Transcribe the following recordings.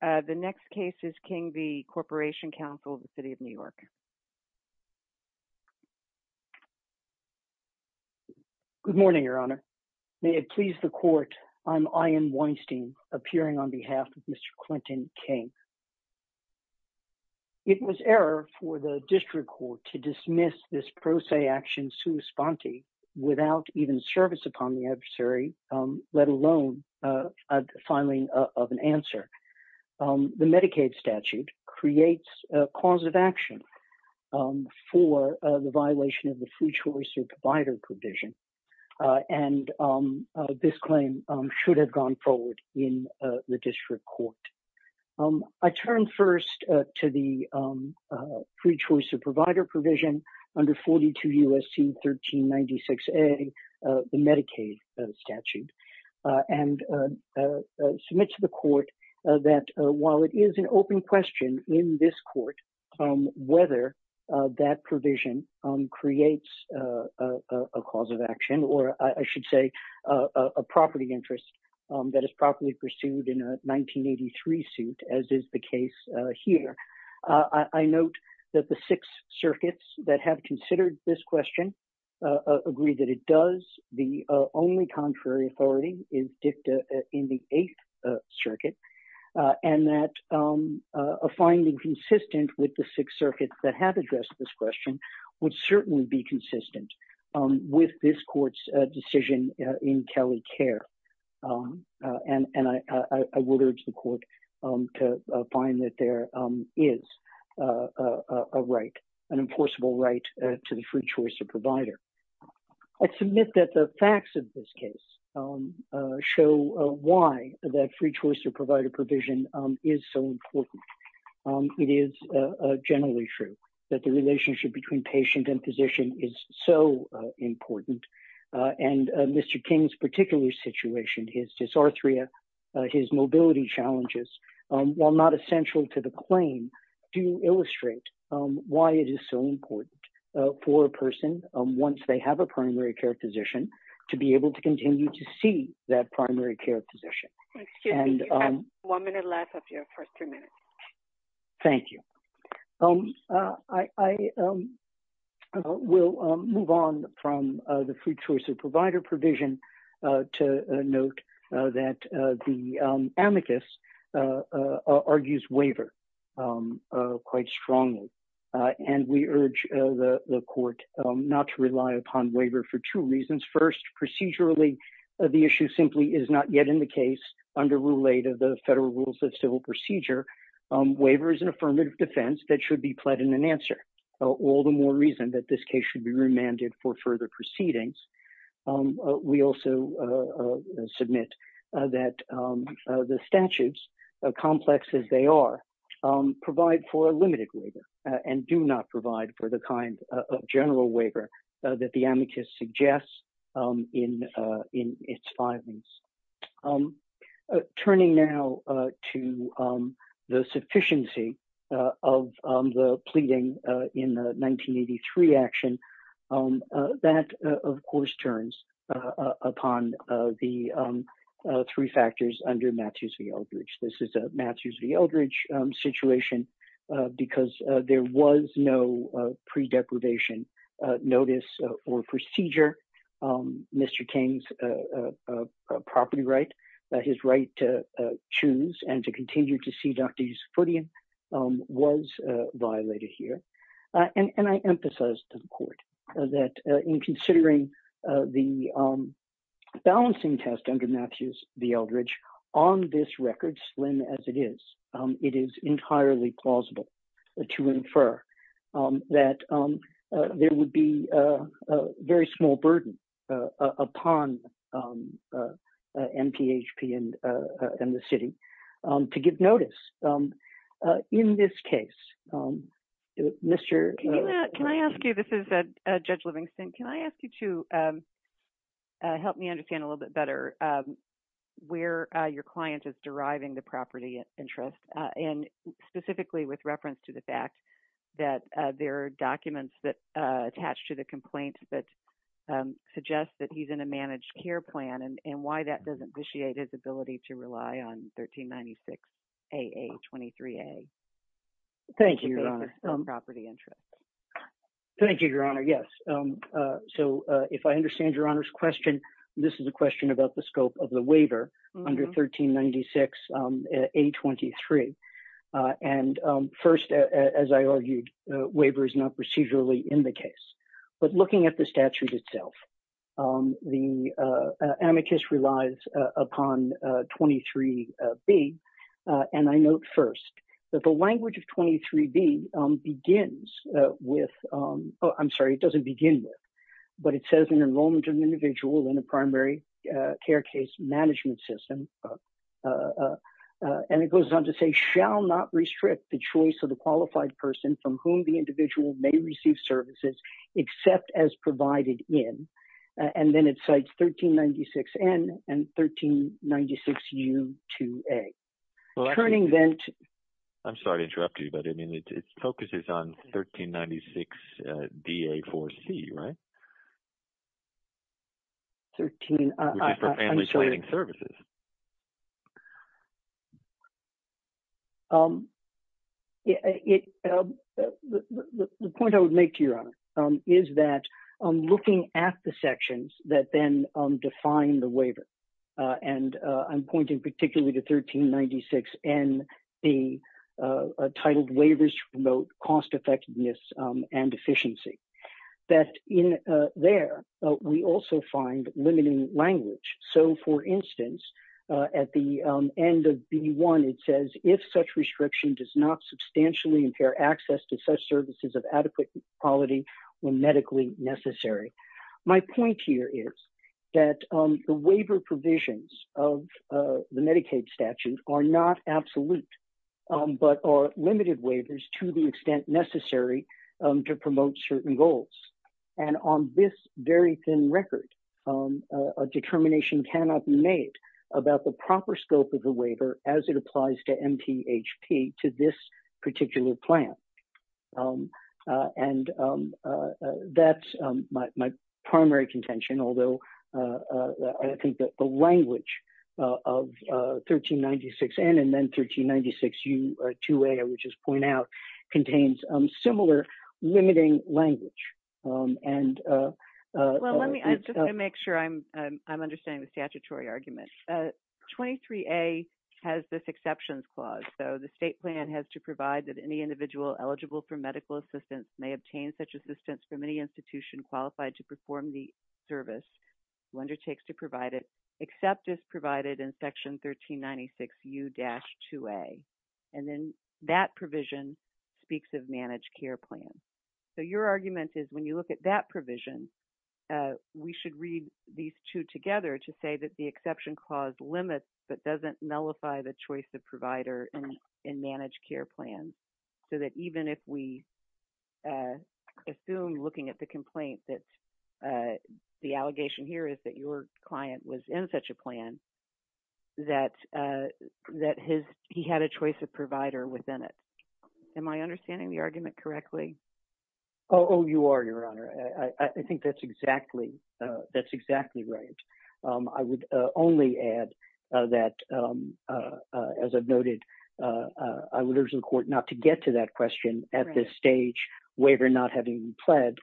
The next case is King v. Corporation Council of the City of New York. Good morning, Your Honor. May it please the Court, I'm Ian Weinstein, appearing on behalf of Mr. Clinton King. It was error for the District Court to dismiss this pro se action without even service upon the adversary, let alone a filing of an answer. The Medicaid statute creates a cause of action for the violation of the free choice or provider provision, and this claim should have gone forward in the District Court. I turn first to the free choice or provider provision under 42 U.S.C. 1396A, the Medicaid statute, and submit to the Court that while it is an open question in this Court whether that provision creates a cause of action, or I should say a property interest that is properly pursued in a six circuits that have considered this question agree that it does, the only contrary authority is dicta in the eighth circuit, and that a finding consistent with the six circuits that have addressed this question would certainly be consistent with this Court's decision in Kelly care, and I would urge the Court to find that there is a right, an enforceable right to the free choice or provider. I submit that the facts of this case show why that free choice or provider provision is so important. It is generally true that the relationship between patient and physician is so important, and Mr. King's particular situation, his dysarthria, his mobility challenges, while not essential to the claim, do illustrate why it is so important for a person once they have a primary care physician to be able to continue to see that primary care physician. Excuse me, you have one minute left of your first three minutes. Thank you. I will move on from the free choice of provider provision to note that the amicus argues waiver quite strongly, and we urge the Court not to rely upon waiver for two reasons. First, procedurally, the issue simply is not yet in the case under Rule 8 of the Federal Rules of Civil Procedure. Waiver is an affirmative defense that should be pled in an answer, all the more reason that this case should be remanded for further proceedings. We also submit that the statutes, complex as they are, provide for a limited waiver and do not provide for the kind of general waiver that the amicus suggests in its findings. Turning now to the sufficiency of the pleading in the 1983 action, that, of course, turns upon the three factors under Matthews v. Eldridge. This is a Matthews v. Eldridge situation because there was no pre-deprivation notice or procedure. Mr. King's property right, his right to choose and to continue to see Dr. Yusufudian, was violated here. And I emphasize to the Court that in considering the balancing test under Matthews v. Eldridge, on this record, slim as it is, it is entirely plausible to infer that there would be a very small burden upon MPHP and the city to give notice. In this case, Mr. Can I ask you, this is Judge Livingston, can I ask you to help me understand a little bit better where your client is deriving the property interest, and specifically with reference to the fact that there are documents that attach to the complaint that suggest that he's in a 23A. Thank you, Your Honor. Property interest. Thank you, Your Honor, yes. So if I understand Your Honor's question, this is a question about the scope of the waiver under 1396 A23. And first, as I argued, waiver is not procedurally in the case. But looking at the first, that the language of 23B begins with, I'm sorry, it doesn't begin with, but it says an enrollment of an individual in a primary care case management system. And it goes on to say, shall not restrict the choice of the qualified person from whom the individual may receive services, except as provided in, and then it cites 1396 N and 1396 U A. I'm sorry to interrupt you, but I mean, it focuses on 1396 D A4 C, right? The point I would make to Your Honor is that looking at the sections that then define the 1396 and the titled waivers to promote cost effectiveness and efficiency, that in there, we also find limiting language. So for instance, at the end of B1, it says, if such restriction does not substantially impair access to such services of adequate quality when medically necessary. My point here is that the waiver provisions of the Medicaid statute are not absolute, but are limited waivers to the extent necessary to promote certain goals. And on this very thin record, a determination cannot be made about the proper scope of the my primary contention, although I think that the language of 1396 N and then 1396 U 2 A, I would just point out, contains similar limiting language. And. Well, let me, I just want to make sure I'm understanding the statutory argument. 23 A has this exceptions clause. So the state plan has to provide that any individual eligible for qualified to perform the service who undertakes to provide it, except as provided in section 1396 U dash 2 A. And then that provision speaks of managed care plans. So your argument is when you look at that provision, we should read these two together to say that the exception clause limits, but doesn't nullify the choice of provider and managed care plans. So that even if we assume looking at the complaint, that's the allegation here is that your client was in such a plan that that his, he had a choice of provider within it. Am I understanding the argument correctly? Oh, you are your honor. I think that's exactly that's exactly right. I would only add that as I've noted, I would urge the court not to get to that question at this stage waiver, not having pled.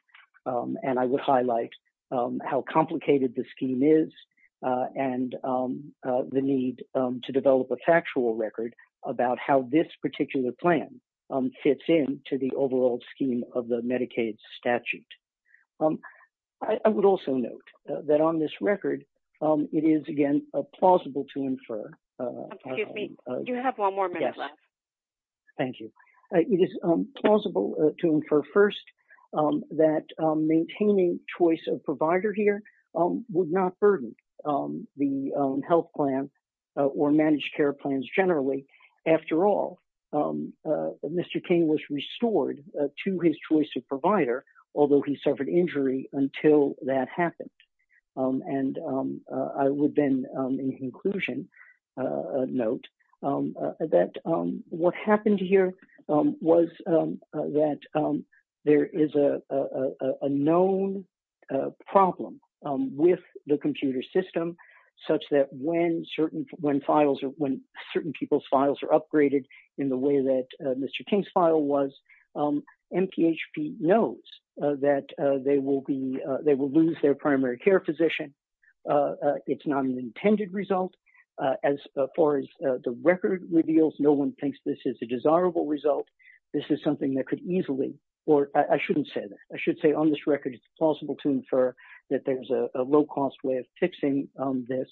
And I would highlight how complicated the scheme is and the need to develop a factual record about how this particular plan fits in to the overall scheme of the Medicaid statute. I would also note that on this record, it is again, a plausible to infer. You have one more minute left. Thank you. It is plausible to infer first that maintaining choice of provider here would not burden the health plan or managed care plans. After all, Mr. King was restored to his choice of provider, although he suffered injury until that happened. And I would then in conclusion, note that what happened here was that there is a known problem with the computer system, such that when certain people's files are upgraded in the way that Mr. King's file was, MPHP knows that they will lose their primary care physician. It's not an intended result. As far as the record reveals, no one thinks this is a desirable result. This is something that could easily, or I shouldn't say that. I should say on this record, it's plausible to infer that there's a low cost way of fixing this.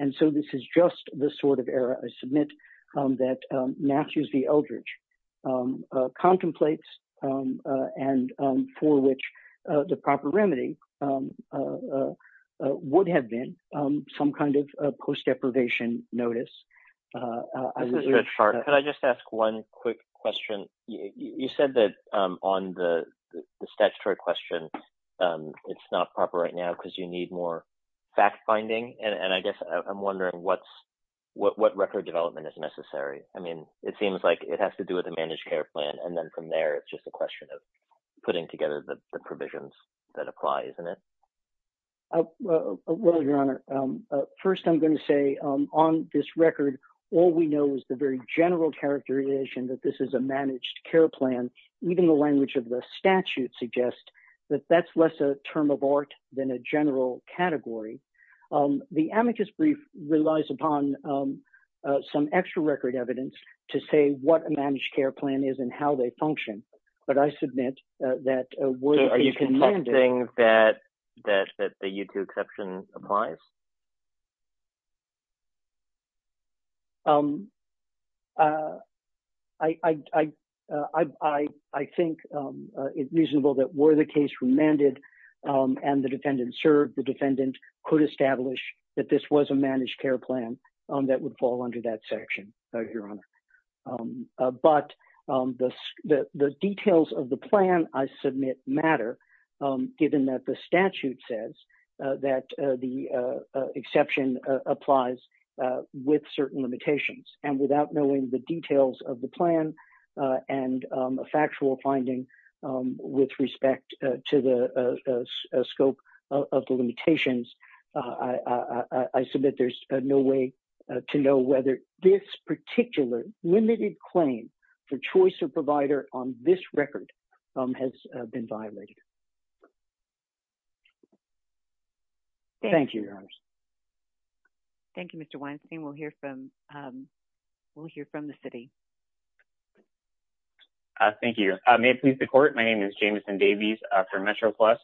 And so this is just the sort of error I submit that Matthews v. Eldridge contemplates and for which the proper remedy would have been some kind of post deprivation notice. I'm just going to start. Can I just ask one quick question? You said that on the statutory question, it's not proper right now because you need more fact finding. And I guess I'm wondering what record development is necessary. I mean, it seems like it has to do with the managed care plan. And then from there, it's just a question of putting together the provisions that apply, isn't it? Well, Your Honor, first I'm going to say on this record, all we know is the very general characterization that this is a managed care plan. Even the language of the statute suggests that that's less a term of art than a general category. The amicus brief relies upon some extra record evidence to say what a managed care plan is and how they function. But I submit that... So are you contesting that the U2 exception applies? I think it's reasonable that were the case remanded and the defendant served, the defendant could establish that this was a managed care plan that would fall under that section, Your Honor. But the details of the plan I submit matter, given that the statute says that the exception applies with certain limitations. And without knowing the details of the plan and a factual finding with respect to the scope of the limitations, I submit there's no way to know whether this particular limited claim for choice of provider on this record has been violated. Thank you, Your Honor. Thank you, Mr. Weinstein. We'll hear from the city. Thank you. May it please the court. My name is Jameson Davies for MetroPlus.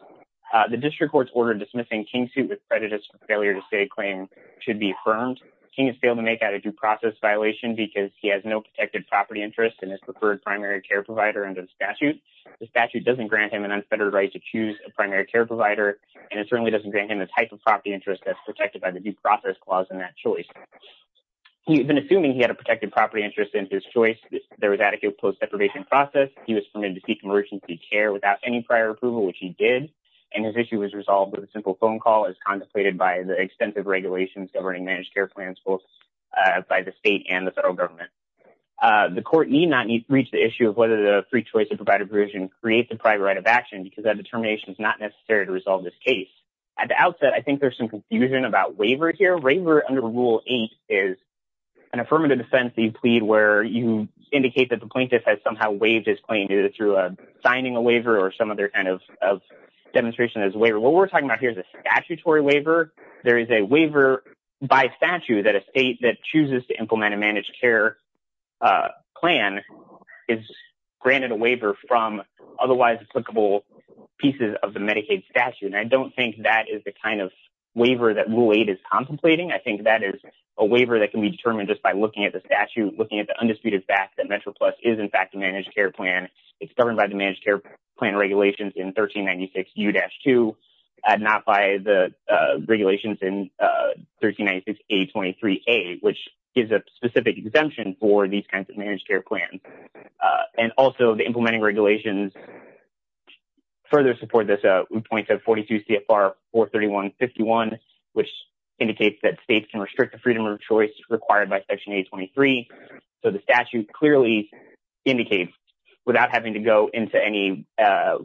The district court's order dismissing King's suit with prejudice for failure to say a claim should be affirmed. King has failed to make out a due process violation because he has no protected property interest in his preferred primary care provider under the statute. The statute doesn't grant him an unfettered right to choose a primary care provider, and it certainly doesn't grant him the type of property interest that's protected by the due process clause in that choice. He's been assuming he had a protected property interest in his choice. There was adequate post-deprivation process. He was permitted to seek emergency care without any prior approval, which he did. And his issue was resolved with a simple phone call as contemplated by the extensive regulations governing managed care plans both by the state and the federal government. The court need not reach the issue of whether the free choice of provider provision creates a private right of action because that determination is not necessary to resolve this case. At the outset, I think there's some confusion about waiver here. Waiver under Rule 8 is an affirmative defense that you plead where you indicate that the plaintiff has somehow waived his claim either through signing a waiver or some other kind of demonstration as a waiver. What we're talking about here is a statutory waiver. There is a waiver by statute that a state that chooses to implement a managed care plan is granted a waiver from otherwise applicable pieces of the Medicaid statute. And I don't think that is the kind of waiver that Rule 8 is contemplating. I think that is a waiver that can be determined just by looking at the statute, looking at the undisputed fact that MetroPlus is, in fact, a managed care plan. It's governed by the managed care plan regulations in 1396U-2 and not by the regulations in 1396A23A, which gives a specific exemption for these kinds of managed care plans. And also, the implementing regulations further support this. We point to 42 CFR 431.51, which indicates that states can restrict the freedom of choice required by Section 823. So, the statute clearly indicates, without having to go into any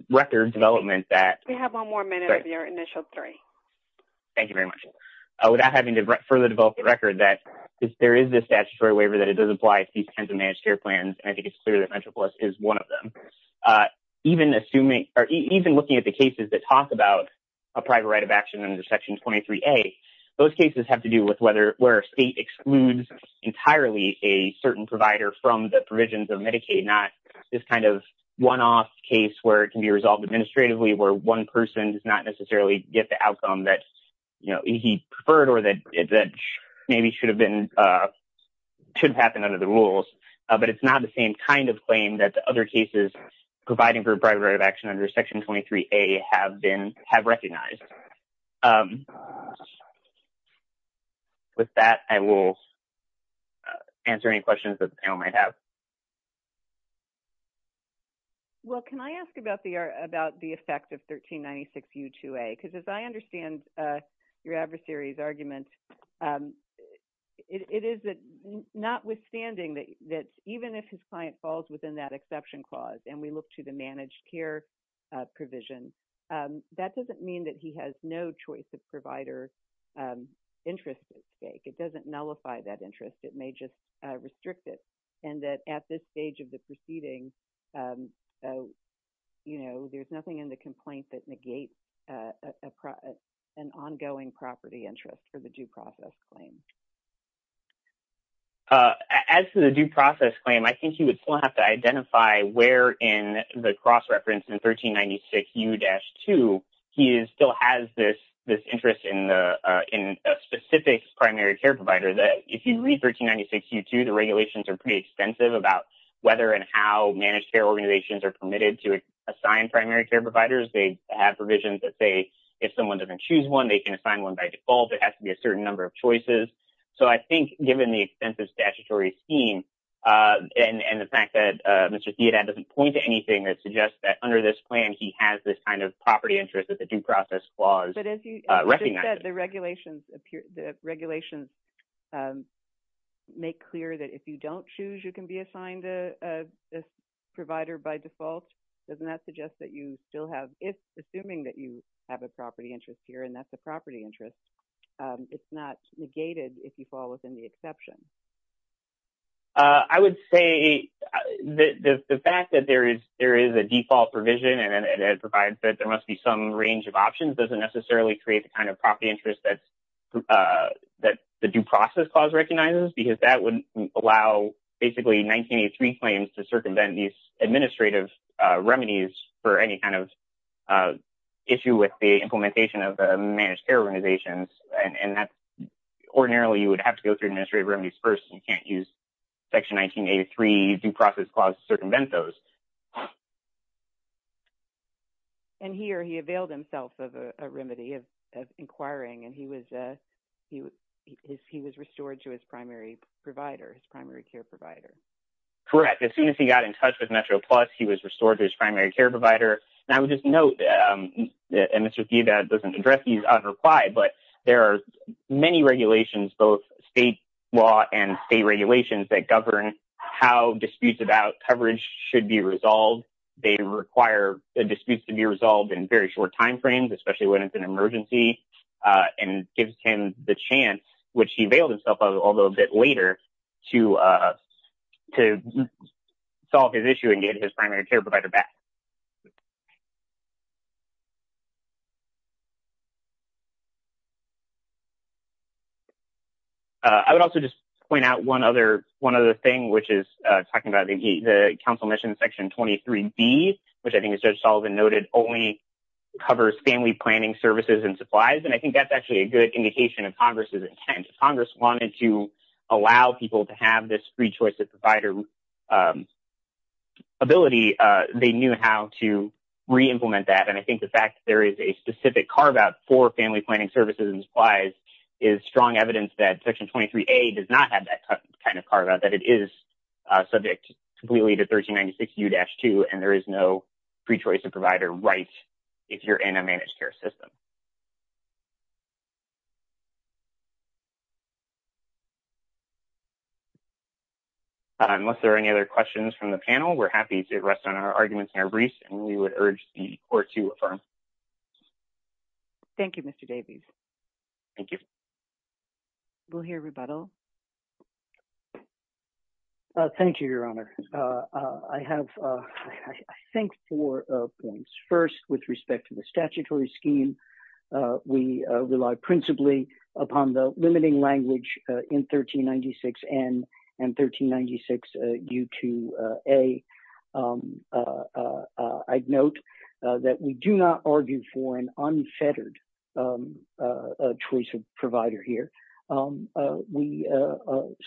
record development that... We have one more minute of your initial three. Thank you very much. Without having to further develop the record that there is this statutory waiver that it does apply to these kinds of managed care plans, and I think it's clear that MetroPlus is one of them. Even looking at the cases that talk about a private right of action under Section 23A, those cases have to do with where a state excludes entirely a certain provider from the provisions of Medicaid, not this kind of one-off case where it can be resolved administratively, where one person does not necessarily get the outcome that he preferred or that maybe should have happened under the rules. But it's not the same kind of claim that the other cases providing for private right of action under Section 23A have recognized. With that, I will answer any questions that the panel might have. Well, can I ask about the effect of 1396U2A? Because as I understand your adversary's argument, it is that notwithstanding that even if his client falls within that exception clause, we look to the managed care provision, that doesn't mean that he has no choice of provider interest at stake. It doesn't nullify that interest. It may just restrict it. And that at this stage of the proceeding, there's nothing in the complaint that negates an ongoing property interest for the due process claim. As to the due process claim, I think you would still have to identify where in the cross-reference in 1396U-2, he still has this interest in a specific primary care provider. If you read 1396U2, the regulations are pretty extensive about whether and how managed care organizations are permitted to assign primary care providers. They have provisions that say if someone doesn't choose one, they can assign one by default. It has to be a certain number of choices. So I think given the extensive statutory scheme and the fact that Mr. Theodat doesn't point to anything that suggests that under this plan, he has this kind of property interest that the due process clause recognizes. But as you said, the regulations make clear that if you don't choose, you can be assigned a provider by default. Doesn't that suggest that you still have, if assuming that you have a property interest here and that's a property interest, it's not negated if you fall within the exception? I would say the fact that there is a default provision and it provides that there must be some range of options doesn't necessarily create the kind of property interest that the due process clause recognizes because that would allow basically 1983 claims to circumvent these administrative remedies for any kind of issue with the implementation of the managed care organizations. Ordinarily, you would have to go through administrative remedies first. You can't use section 1983 due process clause to circumvent those. And here he availed himself of a remedy of inquiring and he was restored to his primary provider, his primary care provider. Correct. As soon as he got in touch with Metro Plus, he was restored to his primary care provider. And I would just note that Mr. Theodat doesn't address these unrequired, but there are many regulations, both state law and state regulations that govern how disputes about coverage should be resolved. They require disputes to be resolved in very short timeframes, especially when it's an emergency and gives him the chance, which he availed himself of a little bit later, to solve his issue and get his primary care provider back. I would also just point out one other thing, which is talking about the council mission section 23B, which I think as Judge Sullivan noted, only covers family planning services and supplies. And I think that's actually a good indication of Congress's intent. Congress wanted to allow people to have this free choice of provider ability. They knew how to re-implement that. And I think the fact that there is a specific carve-out for family planning services and supplies is strong evidence that section 23A does not have that kind of carve-out, that it is subject completely to 1396U-2 and there is no free choice of provider right if you're in a managed care system. Unless there are any other questions from the panel, we're happy to rest on our arguments in our briefs and we would urge the court to affirm. Thank you, Mr. Davies. Thank you. We'll hear rebuttal. Thank you, Your Honor. I have, I think, four points. First, with respect to the statutory scheme, we rely principally upon the limiting language in 1396N and 1396U-2A. I'd note that we do not argue for an unfettered choice of provider here. We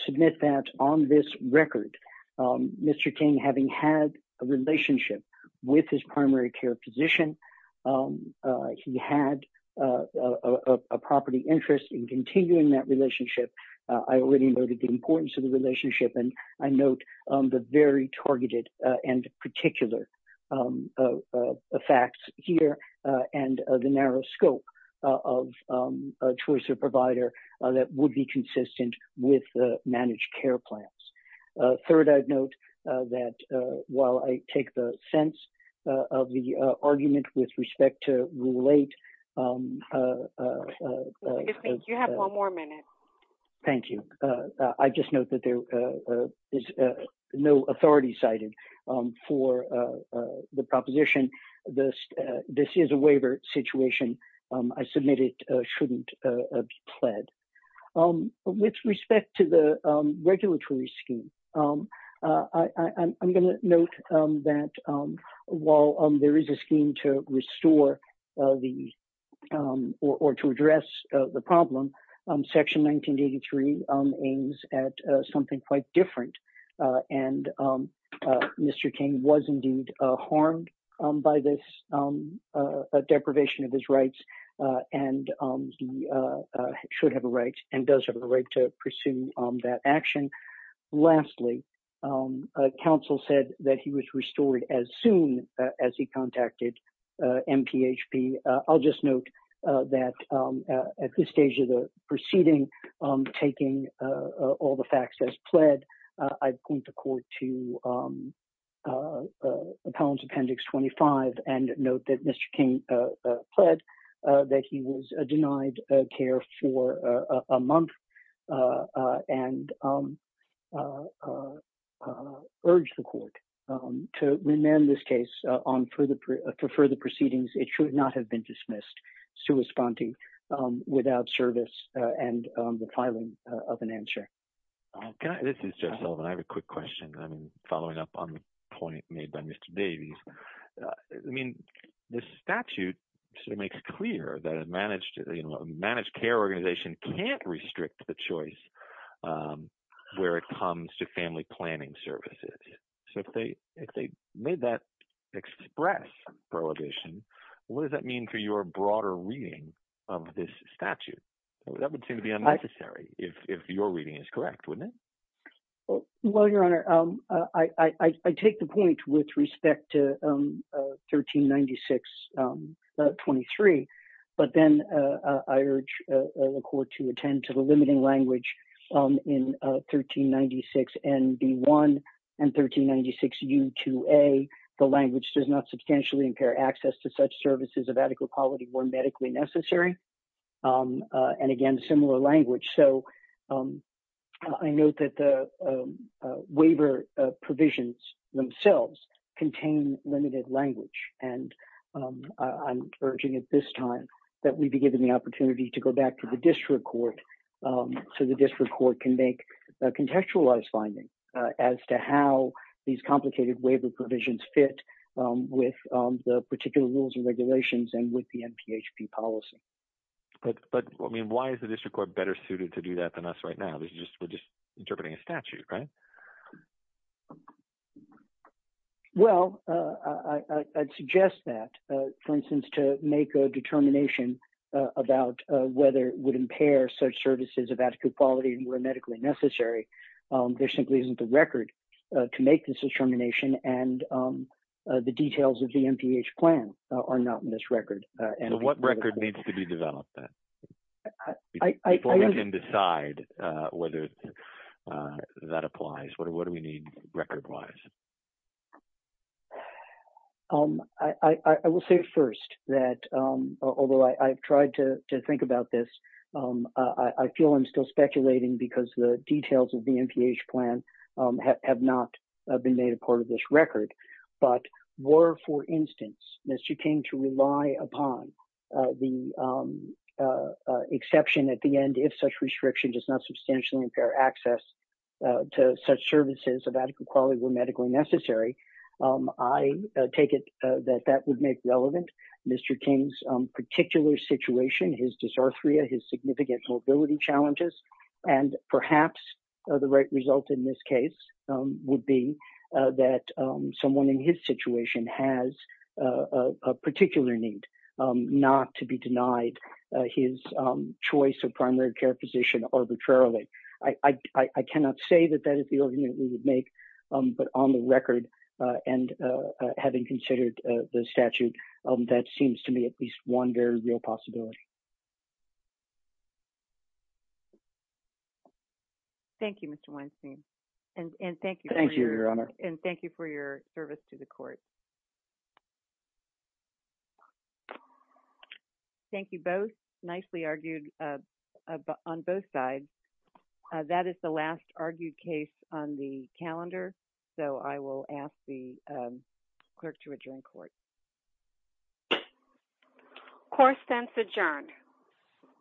submit that on this record, Mr. King, having had a relationship with his primary care physician, he had a property interest in continuing that relationship. I already noted the importance of the relationship and I note the very targeted and particular facts here and the narrow scope of a choice of provider that would be consistent with the managed care plans. Third, I'd note that while I take the sense of the argument with respect to Rule 8. You have one more minute. Thank you. I just note that there is no authority cited for the proposition. This is a waiver situation. I submit it shouldn't be pledged. With respect to the regulatory scheme, I'm going to note that while there is a scheme to restore the or to address the problem, Section 1983 aims at something quite different. Mr. King was indeed harmed by this deprivation of his rights and he should have a right and does have a right to pursue that action. Lastly, counsel said that he was restored as soon as he contacted MPHP. I'll just note that at this stage of the proceeding, taking all the facts as pled, I point the court to Appellant's Appendix 25 and note that Mr. King pled that he was denied care for a month and urge the court to remand this case for further proceedings. It should not have been dismissed. It's too responding without service and the filing of an answer. This is Jeff Sullivan. I have a quick question. I'm following up on the point made by Mr. Davies. I mean, this statute makes clear that a managed care organization can't restrict the choice where it comes to family planning services. If they made that express prohibition, what does that mean for your broader reading of this statute? That would seem to be unnecessary if your reading is correct, wouldn't it? Well, Your Honor, I take the point with respect to 139623, but then I urge the court to attend to the limiting language in 1396NB1 and 1396U2A. The language does not substantially impair access to such services of adequate quality or medically necessary. And again, similar language. So I note that the waiver provisions themselves contain limited language. And I'm urging at this time that we be given the opportunity to go back to the district court so the district court can make a contextualized finding as to how these complicated waiver provisions fit with the particular rules and regulations and with the MPHP policy. But I mean, why is the district court better suited to do that than us now? We're just interpreting a statute, right? Well, I'd suggest that, for instance, to make a determination about whether it would impair such services of adequate quality and were medically necessary. There simply isn't the record to make this determination. And the details of the MPH plan are not in this record. So what record needs to be developed then? Before we can decide whether that applies, what do we need record-wise? I will say first that, although I've tried to think about this, I feel I'm still speculating because the details of the MPH plan have not been made a part of this record. But were, for instance, Mr. King to rely upon the exception at the end if such restriction does not substantially impair access to such services of adequate quality were medically necessary, I take it that that would make relevant Mr. King's particular situation, his dysarthria, his significant mobility challenges. And perhaps the right result in this case would be that someone in his situation has a particular need not to be denied his choice of primary care physician arbitrarily. I cannot say that that is the argument we would make. But on the record, and having considered the statute, that seems to me at least one very real possibility. Thank you, Mr. Weinstein. And thank you. Thank you, Your Honor. And thank you for your service to the court. Thank you both. Nicely argued on both sides. That is the last argued case on the calendar. So I will ask the clerk to adjourn court. Court stands adjourned.